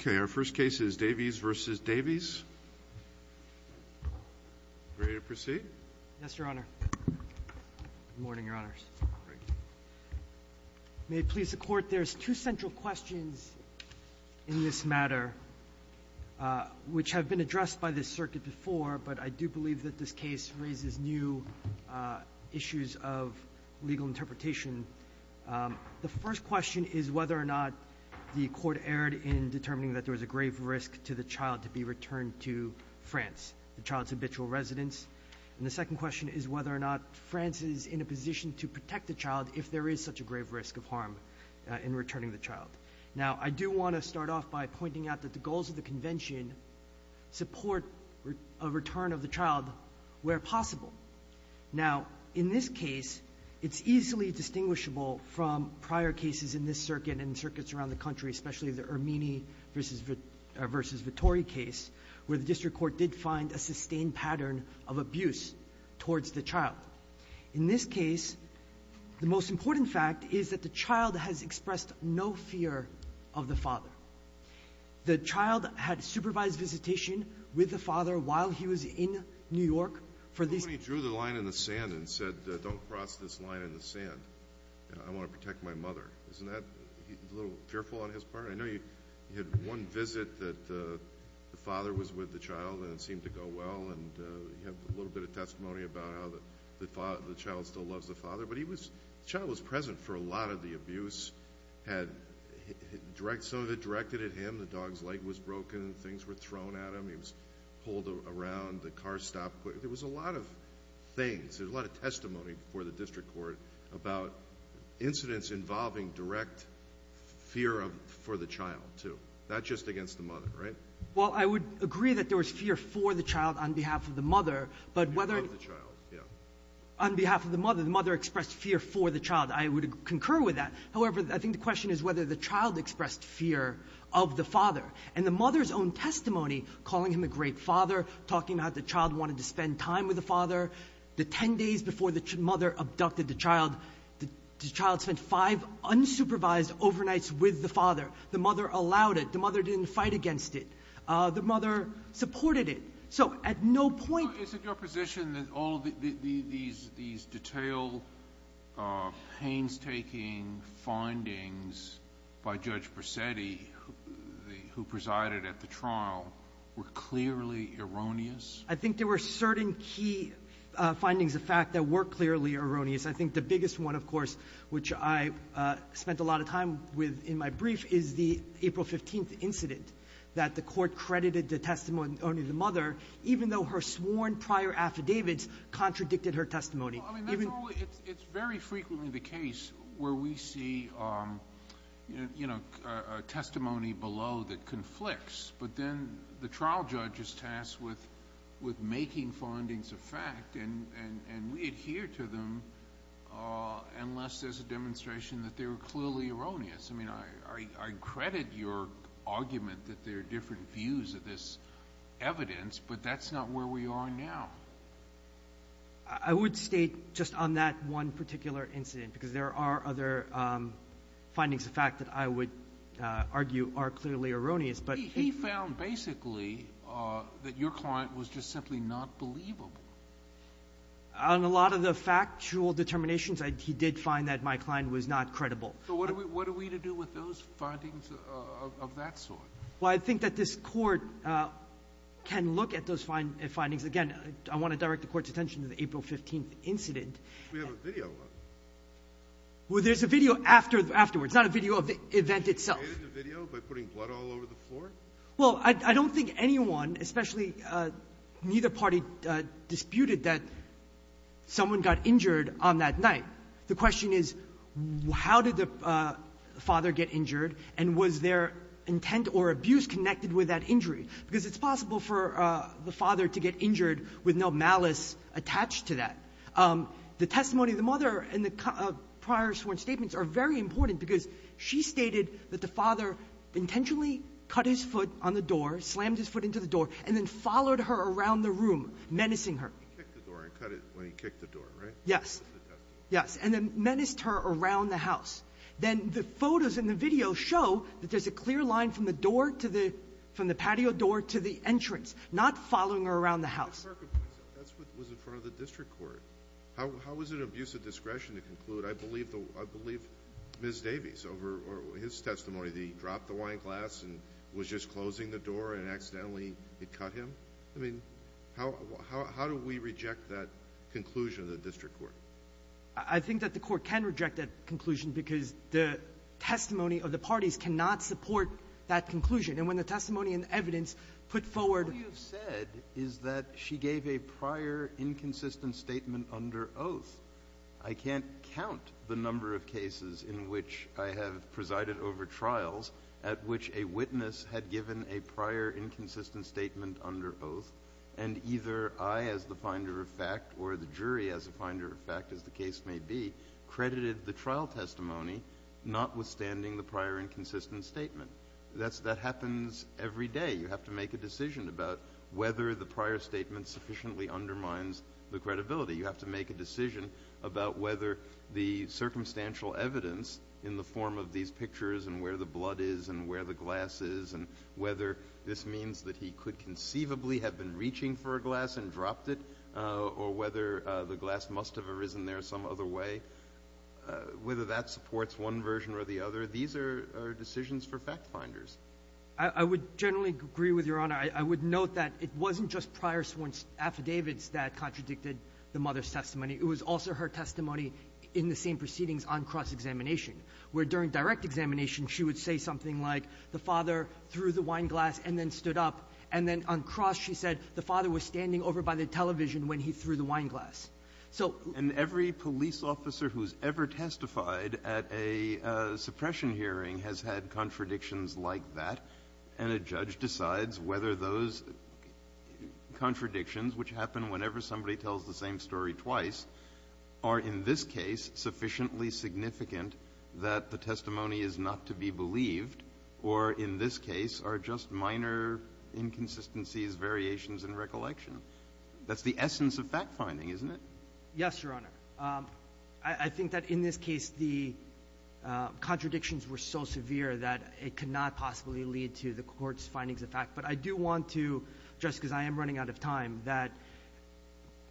Okay. Our first case is Davies v. Davies. Ready to proceed? Yes, Your Honor. Good morning, Your Honors. Good morning. May it please the Court, there's two central questions in this matter which have been addressed by this circuit before, but I do believe that this case raises new issues of legal interpretation. The first question is whether or not the Court erred in determining that there was a grave risk to the child to be returned to France, the child's habitual residence. And the second question is whether or not France is in a position to protect the child if there is such a grave risk of harm in returning the child. Now, I do want to start off by pointing out that the goals of the Convention support a return of the child where possible. Now, in this case, it's easily distinguishable from prior cases in this circuit and circuits around the country, especially the Ermini v. Vittori case, where the district court did find a sustained pattern of abuse towards the child. In this case, the most important fact is that the child has expressed no fear of the father. The child had supervised visitation with the father while he was in New York for these And he drew the line in the sand and said, don't cross this line in the sand. I want to protect my mother. Isn't that a little fearful on his part? I know you had one visit that the father was with the child and it seemed to go well, and you have a little bit of testimony about how the child still loves the father. But the child was present for a lot of the abuse. Some of it directed at him. The dog's leg was broken and things were thrown at him. He was pulled around. The car stopped. There was a lot of things. There was a lot of testimony before the district court about incidents involving direct fear for the child, too. That's just against the mother, right? Well, I would agree that there was fear for the child on behalf of the mother. But whether the child, yeah. On behalf of the mother, the mother expressed fear for the child. I would concur with that. However, I think the question is whether the child expressed fear of the father. And the mother's own testimony calling him a great father, talking about the child wanted to spend time with the father. The 10 days before the mother abducted the child, the child spent five unsupervised overnights with the father. The mother allowed it. The mother didn't fight against it. The mother supported it. So at no point ---- these detail painstaking findings by Judge Bracetti, who presided at the trial, were clearly erroneous? I think there were certain key findings of fact that were clearly erroneous. I think the biggest one, of course, which I spent a lot of time with in my brief, is the April 15th incident that the Court credited the testimony only to the mother, even though her sworn prior affidavits contradicted her testimony. Even ---- Well, I mean, that's all ---- it's very frequently the case where we see, you know, testimony below that conflicts, but then the trial judge is tasked with making findings of fact, and we adhere to them unless there's a demonstration that they were clearly erroneous. I mean, I credit your argument that there are different views of this evidence, but that's not where we are now. I would state just on that one particular incident, because there are other findings of fact that I would argue are clearly erroneous, but ---- He found basically that your client was just simply not believable. On a lot of the factual determinations, he did find that my client was not credible. So what are we to do with those findings of that sort? Well, I think that this Court can look at those findings. Again, I want to direct the Court's attention to the April 15th incident. We have a video of it. Well, there's a video afterwards, not a video of the event itself. Did you create the video by putting blood all over the floor? Well, I don't think anyone, especially neither party, disputed that someone got injured on that night. The question is, how did the father get injured, and was their intent or abuse connected with that injury? Because it's possible for the father to get injured with no malice attached to that. The testimony of the mother and the prior sworn statements are very important because she stated that the father intentionally cut his foot on the door, slammed his foot into the door, and then followed her around the room, menacing her. He kicked the door and cut it when he kicked the door, right? Yes. Yes. And then menaced her around the house. Then the photos and the video show that there's a clear line from the door to the patio door to the entrance, not following her around the house. That's what was in front of the district court. How was it an abuse of discretion to conclude, I believe Ms. Davies, over his testimony, that he dropped the wine glass and was just closing the door and accidentally had cut him? I mean, how do we reject that conclusion of the district court? I think that the Court can reject that conclusion because the testimony of the parties cannot support that conclusion. And when the testimony and evidence put forward — All you've said is that she gave a prior inconsistent statement under oath. I can't count the number of cases in which I have presided over trials at which a witness had given a prior inconsistent statement under oath, and either I as the finder of fact or the jury as the finder of fact, as the case may be, credited the trial testimony, notwithstanding the prior inconsistent statement. That happens every day. You have to make a decision about whether the prior statement sufficiently undermines the credibility. You have to make a decision about whether the circumstantial evidence in the form of these pictures and where the blood is and where the glass is and whether this means that he could conceivably have been reaching for a glass and dropped it, or whether the glass must have arisen there some other way, whether that supports one version or the other. These are decisions for fact finders. I would generally agree with Your Honor. I would note that it wasn't just prior sworn affidavits that contradicted the mother's testimony in the same proceedings on cross-examination, where during direct examination she would say something like the father threw the wine glass and then stood up, and then on cross she said the father was standing over by the television when he threw when he threw the wine glass. Breyer. And every police officer who's ever testified at a suppression hearing has had contradictions like that, and a judge decides whether those contradictions, which happen whenever somebody tells the same story twice, are in this case sufficiently significant that the testimony is not to be believed, or in this case are just minor inconsistencies, variations in recollection. That's the essence of fact-finding, isn't it? Yes, Your Honor. I think that in this case the contradictions were so severe that it could not possibly lead to the Court's findings of fact. But I do want to, just because I am running out of time, that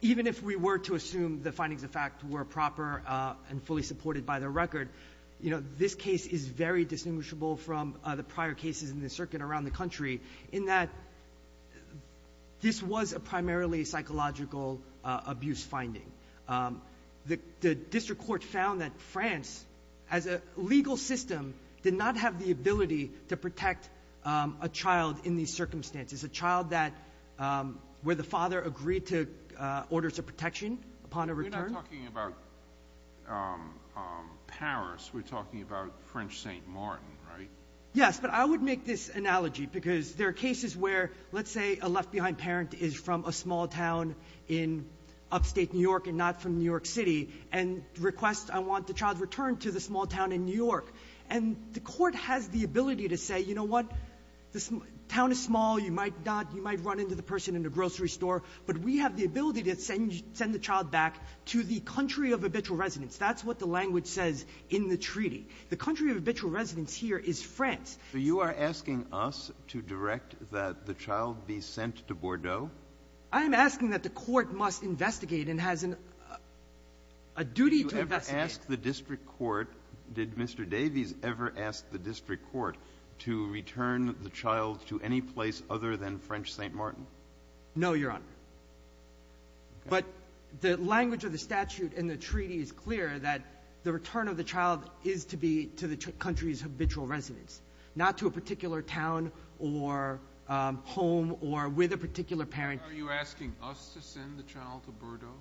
even if we were to assume the findings of fact were proper and fully supported by the record, you know, this case is very distinguishable from the prior cases in the circuit around the country in that this was a primarily psychological abuse finding. The district court found that France, as a legal system, did not have the ability to protect a child in these circumstances, a child where the father agreed to orders of protection upon a return. We're not talking about Paris. We're talking about French St. Martin, right? Yes, but I would make this analogy because there are cases where, let's say, a left-behind parent is from a small town in upstate New York and not from New York City, and requests, I want the child returned to the small town in New York. And the Court has the ability to say, you know what, the town is small, you might not, you might run into the person in the grocery store, but we have the ability to send the child back to the country of habitual residence. That's what the language says in the treaty. The country of habitual residence here is France. So you are asking us to direct that the child be sent to Bordeaux? I am asking that the Court must investigate and has a duty to investigate. Did you ever ask the district court, did Mr. Davies ever ask the district court to return the child to any place other than French St. Martin? No, Your Honor. But the language of the statute in the treaty is clear that the return of the child is to be to the country's habitual residence, not to a particular town or home or with a particular parent. Are you asking us to send the child to Bordeaux?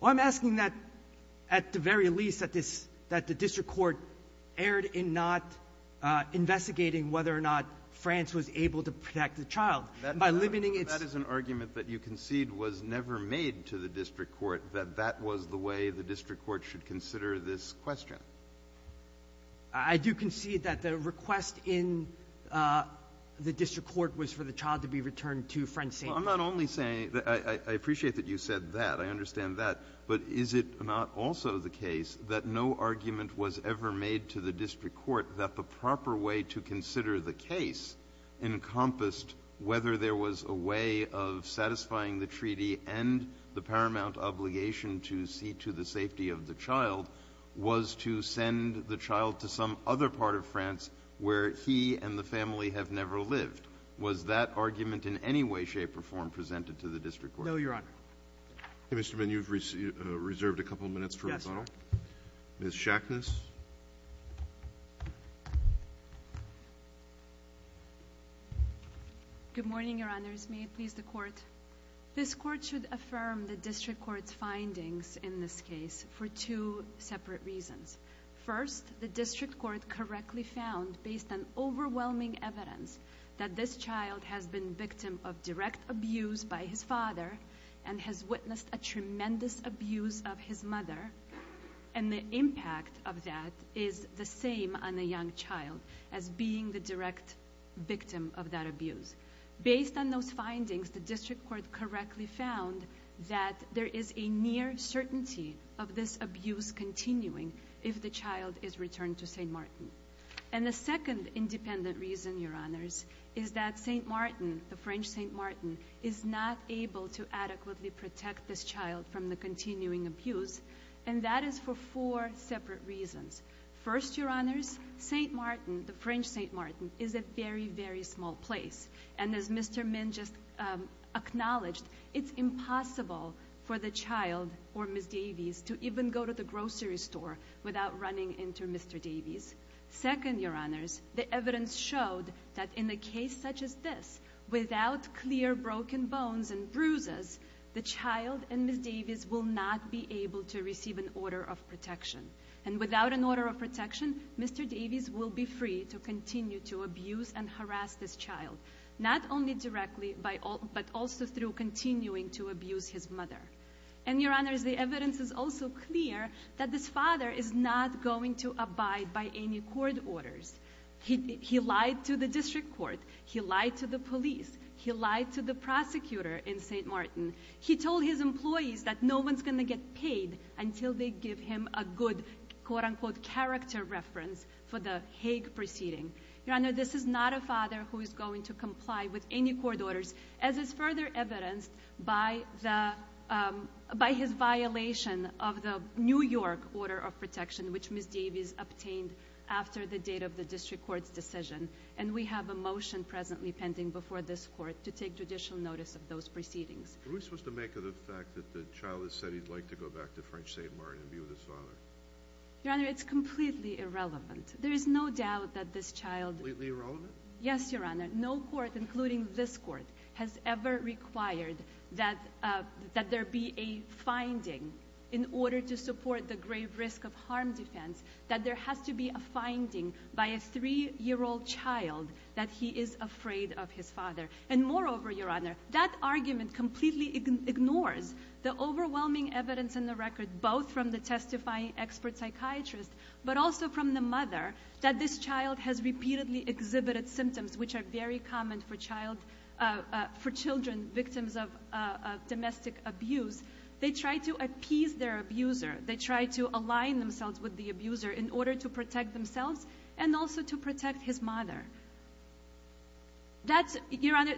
Well, I'm asking that, at the very least, that this – that the district court erred in not investigating whether or not France was able to protect the child. By limiting its – That is an argument that you concede was never made to the district court, that that was the way the district court should consider this question. I do concede that the request in the district court was for the child to be returned to French St. Martin. Well, I'm not only saying – I appreciate that you said that. I understand that. But is it not also the case that no argument was ever made to the district court that the proper way to consider the case encompassed whether there was a way of satisfying the treaty and the paramount obligation to see to the safety of the child was to send the child to some other part of France where he and the family have never lived? Was that argument in any way, shape, or form presented to the district court? No, Your Honor. Mr. Mann, you've reserved a couple minutes for rebuttal. Yes, sir. Ms. Shackness. Good morning, Your Honors. May it please the Court. This Court should affirm the district court's findings in this case for two separate reasons. First, the district court correctly found, based on overwhelming evidence, that this child has been victim of direct abuse by his father and has witnessed a tremendous abuse of his mother. And the impact of that is the same on a young child as being the direct victim of that abuse. Based on those findings, the district court correctly found that there is a near certainty of this abuse continuing if the child is returned to St. Martin. And the second independent reason, Your Honors, is that St. Martin, the French St. Martin, is not able to adequately protect this child from the continuing abuse. And that is for four separate reasons. First, Your Honors, St. Martin, the French St. Martin, is a very, very small place. And as Mr. Mann just acknowledged, it's impossible for the child or Ms. Davies to even go to the grocery store without running into Mr. Davies. Second, Your Honors, the evidence showed that in a case such as this, without clear broken bones and bruises, the child and Ms. Davies will not be able to receive an order of protection. And without an order of protection, Mr. Davies will be free to continue to abuse and harass this child. Not only directly, but also through continuing to abuse his mother. And Your Honors, the evidence is also clear that this father is not going to abide by any court orders. He lied to the district court. He lied to the police. He lied to the prosecutor in St. Martin. He told his employees that no one's going to get paid until they give him a good quote unquote character reference for the Hague proceeding. Your Honor, this is not a father who is going to comply with any court orders as is further evidenced by his violation of the New York order of protection, which Ms. Davies obtained after the date of the district court's decision. And we have a motion presently pending before this court to take judicial notice of those proceedings. Were we supposed to make of the fact that the child has said he'd like to go back to French St. Martin and be with his father? Your Honor, it's completely irrelevant. There is no doubt that this child- Completely irrelevant? Yes, Your Honor. No court, including this court, has ever required that there be a finding in order to support the grave risk of harm defense, that there has to be a finding by a three-year-old child that he is afraid of his father. And moreover, Your Honor, that argument completely ignores the overwhelming evidence in the record, both from the testifying expert psychiatrist, but also from the mother, that this child has repeatedly exhibited symptoms which are very common for children, victims of domestic abuse. They try to appease their abuser. They try to align themselves with the abuser in order to protect themselves and also to protect his mother. That's- Your Honor,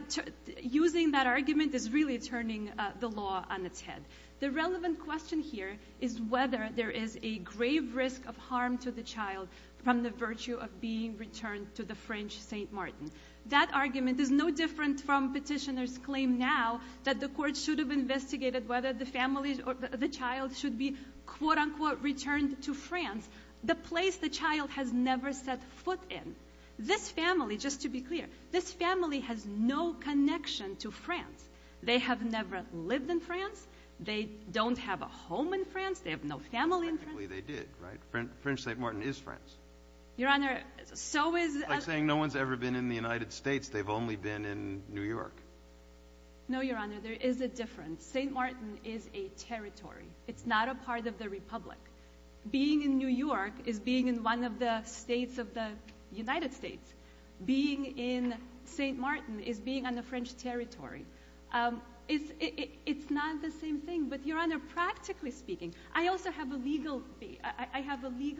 using that argument is really turning the law on its head. The relevant question here is whether there is a grave risk of harm to the child from the virtue of being returned to the French St. Martin. That argument is no different from petitioners' claim now that the court should have investigated whether the family or the child should be quote-unquote returned to France, the place the child has never set foot in. This family, just to be clear, this family has no connection to France. They have never lived in France. They don't have a home in France. They have no family in France. They did, right? French St. Martin is France. Your Honor, so is- It's like saying no one's ever been in the United States. They've only been in New York. No, Your Honor, there is a difference. St. Martin is a territory. It's not a part of the Republic. Being in New York is being in one of the states of the United States. Being in St. Martin is being on the French territory. It's not the same thing. But, Your Honor, practically speaking, I also have a legal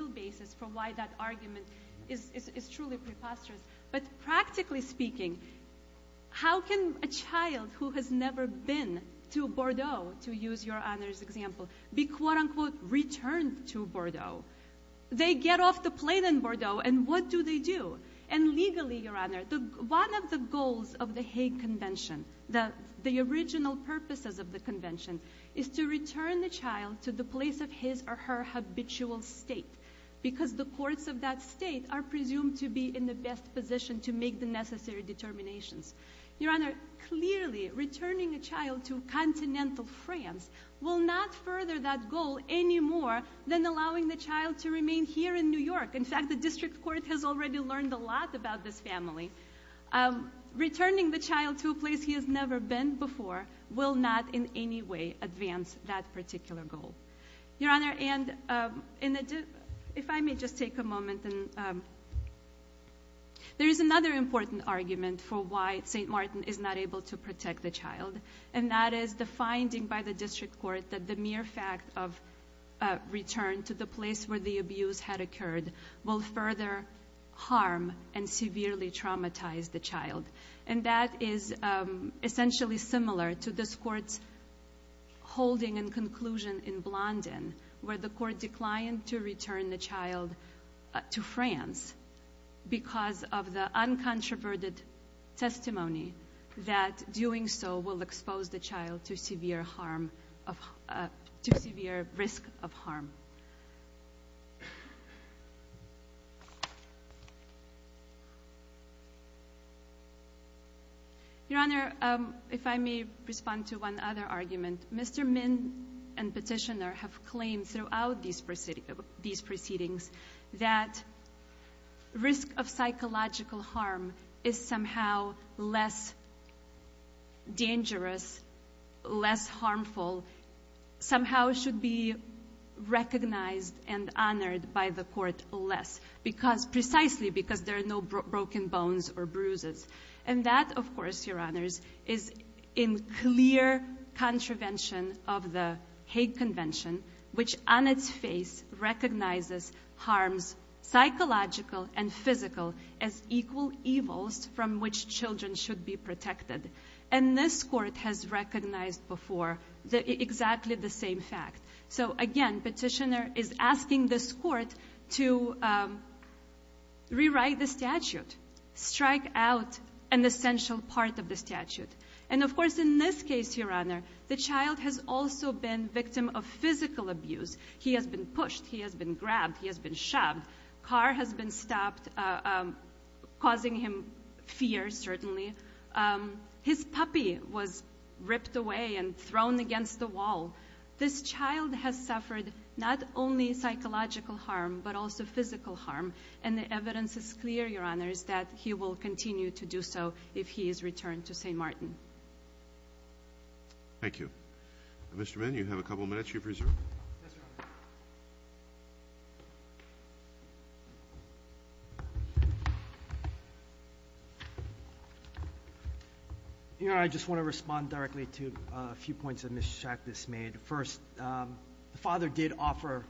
basis for why that argument is truly preposterous. But practically speaking, how can a child who has never been to Bordeaux, to use Your Honor's example, be, quote unquote, returned to Bordeaux? They get off the plane in Bordeaux, and what do they do? And legally, Your Honor, one of the goals of the Hague Convention, the original purposes of the convention, is to return the child to the place of his or her habitual state. Because the courts of that state are presumed to be in the best position to make the necessary determinations. Your Honor, clearly, returning a child to continental France will not further that goal any more than allowing the child to remain here in New York. In fact, the district court has already learned a lot about this family. Returning the child to a place he has never been before will not in any way advance that particular goal. There is another important argument for why St. Martin is not able to protect the child. And that is the finding by the district court that the mere fact of return to the place where the abuse had occurred will further harm and severely traumatize the child. And that is essentially similar to this court's holding and to France, because of the uncontroverted testimony that doing so will expose the child to severe harm, to severe risk of harm. Your Honor, if I may respond to one other argument. Mr. Min and petitioner have claimed throughout these proceedings that risk of psychological harm is somehow less dangerous, less harmful, somehow should be recognized and honored by the court less, precisely because there are no broken bones or bruises, and that, of course, your honors, is in clear contravention of the Hague Convention, which on its face recognizes harms psychological and physical as equal evils from which children should be protected. And this court has recognized before exactly the same fact. So again, petitioner is asking this court to rewrite the statute, strike out an essential part of the statute. And of course, in this case, your honor, the child has also been victim of physical abuse. He has been pushed, he has been grabbed, he has been shoved. Car has been stopped, causing him fear, certainly. His puppy was ripped away and thrown against the wall. This child has suffered not only psychological harm, but also physical harm. And the evidence is clear, your honor, is that he will continue to do so if he is returned to St. Martin. Thank you. Mr. Mann, you have a couple of minutes, you're preserved. Yes, your honor. Your honor, I just want to respond directly to a few points that Mr. Schacht has made. First, the father did offer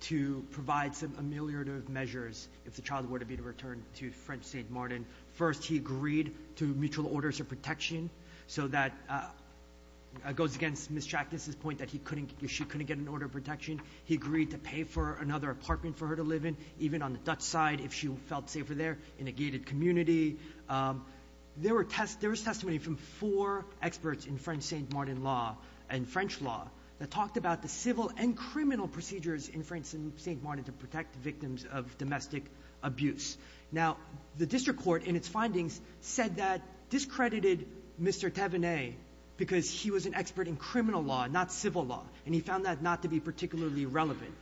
to provide some ameliorative measures if the child were to be returned to French St. Martin. First, he agreed to mutual orders of protection. So that goes against Ms. Schacht's point that she couldn't get an order of protection. He agreed to pay for another apartment for her to live in, even on the Dutch side if she felt safer there, in a gated community. There was testimony from four experts in French St. Martin law and French law that talked about the civil and criminal procedures in French St. Martin to protect victims of domestic abuse. Now, the district court, in its findings, said that discredited Mr. Thévenet because he was an expert in criminal law, not civil law. And he found that not to be particularly relevant.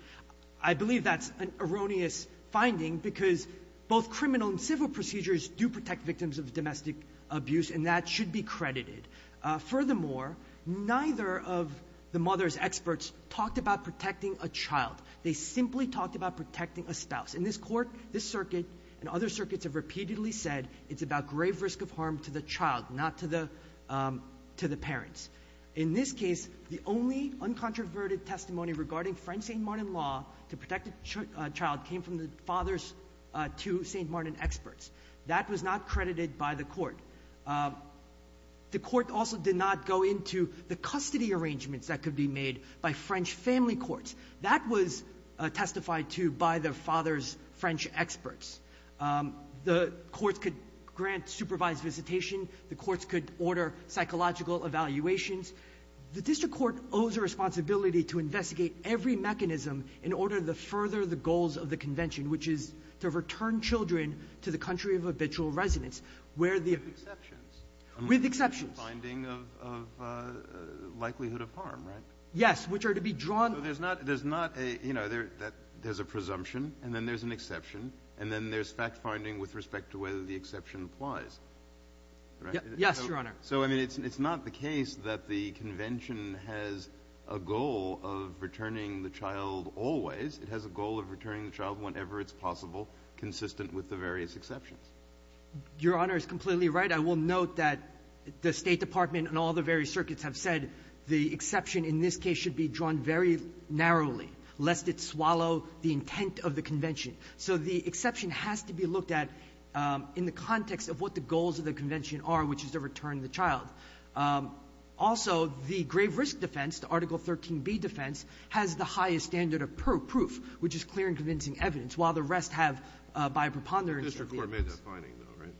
I believe that's an erroneous finding because both criminal and civil procedures do protect victims of domestic abuse, and that should be credited. Furthermore, neither of the mother's experts talked about protecting a child. They simply talked about protecting a spouse. In this court, this circuit and other circuits have repeatedly said it's about grave risk of harm to the child, not to the parents. In this case, the only uncontroverted testimony regarding French St. Martin law to protect a child came from the father's two St. Martin experts. That was not credited by the court. The court also did not go into the custody arrangements that could be made by French family courts. That was testified to by the father's French experts. The courts could grant supervised visitation. The courts could order psychological evaluations. The district court owes a responsibility to investigate every mechanism in order to further the goals of the convention, which is to return children to the country of habitual residence, where the — Kennedy. With exceptions. Martin. With exceptions. Kennedy. Finding of likelihood of harm, right? Martin. Yes, which are to be drawn — Kennedy. No, there's not a — you know, there's a presumption, and then there's an exception, and then there's fact-finding with respect to whether the exception applies, right? Martin. Yes, Your Honor. Kennedy. So, I mean, it's not the case that the convention has a goal of returning the child always. It has a goal of returning the child whenever it's possible, consistent with the various exceptions. Martin. Your Honor is completely right. I will note that the State Department and all the various circuits have said the exception in this case should be drawn very narrowly, lest it swallow the intent of the convention. So the exception has to be looked at in the context of what the goals of the convention are, which is to return the child. Also, the grave risk defense, the Article 13b defense, has the highest standard of proof, which is clear and convincing evidence, while the rest have, by a preponderance of evidence. Kennedy. The district court made that finding, though, right? Martin.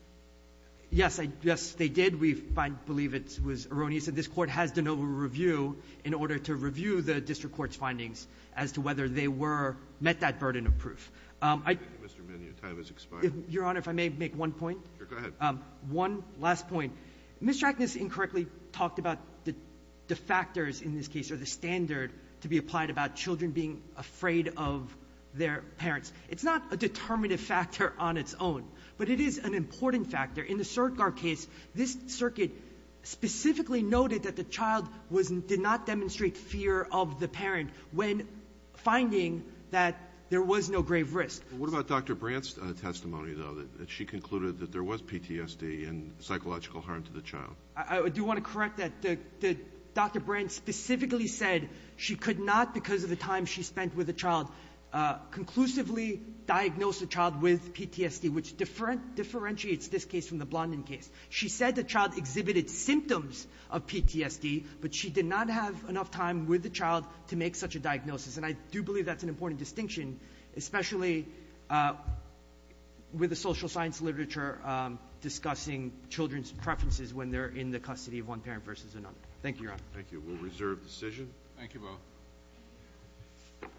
Yes, I — yes, they did. We find — believe it was erroneous that this Court has de novo review in order to review the district court's findings as to whether they were — met that burden of proof. I — Kennedy. Mr. Mignot, your time has expired. Mignot. Your Honor, if I may make one point? Kennedy. Sure. Go ahead. Mignot. One last point. Ms. Jackness incorrectly talked about the factors in this case or the standard to be applied about children being afraid of their parents. It's not a determinative factor on its own, but it is an important factor. In the Surdgar case, this circuit specifically noted that the child was — did not demonstrate fear of the parent when finding that there was no grave risk. What about Dr. Brandt's testimony, though, that she concluded that there was PTSD and psychological harm to the child? I do want to correct that. The — Dr. Brandt specifically said she could not, because of the time she spent with the child, conclusively diagnose the child with PTSD, which differentiates this case from the Blondin case. She said the child exhibited symptoms of PTSD, but she did not have enough time with the child to make such a diagnosis. And I do believe that's an important distinction, especially with the social science literature discussing children's preferences when they're in the custody of one parent versus another. Thank you, Your Honor. Thank you. We'll reserve decision. Thank you, both.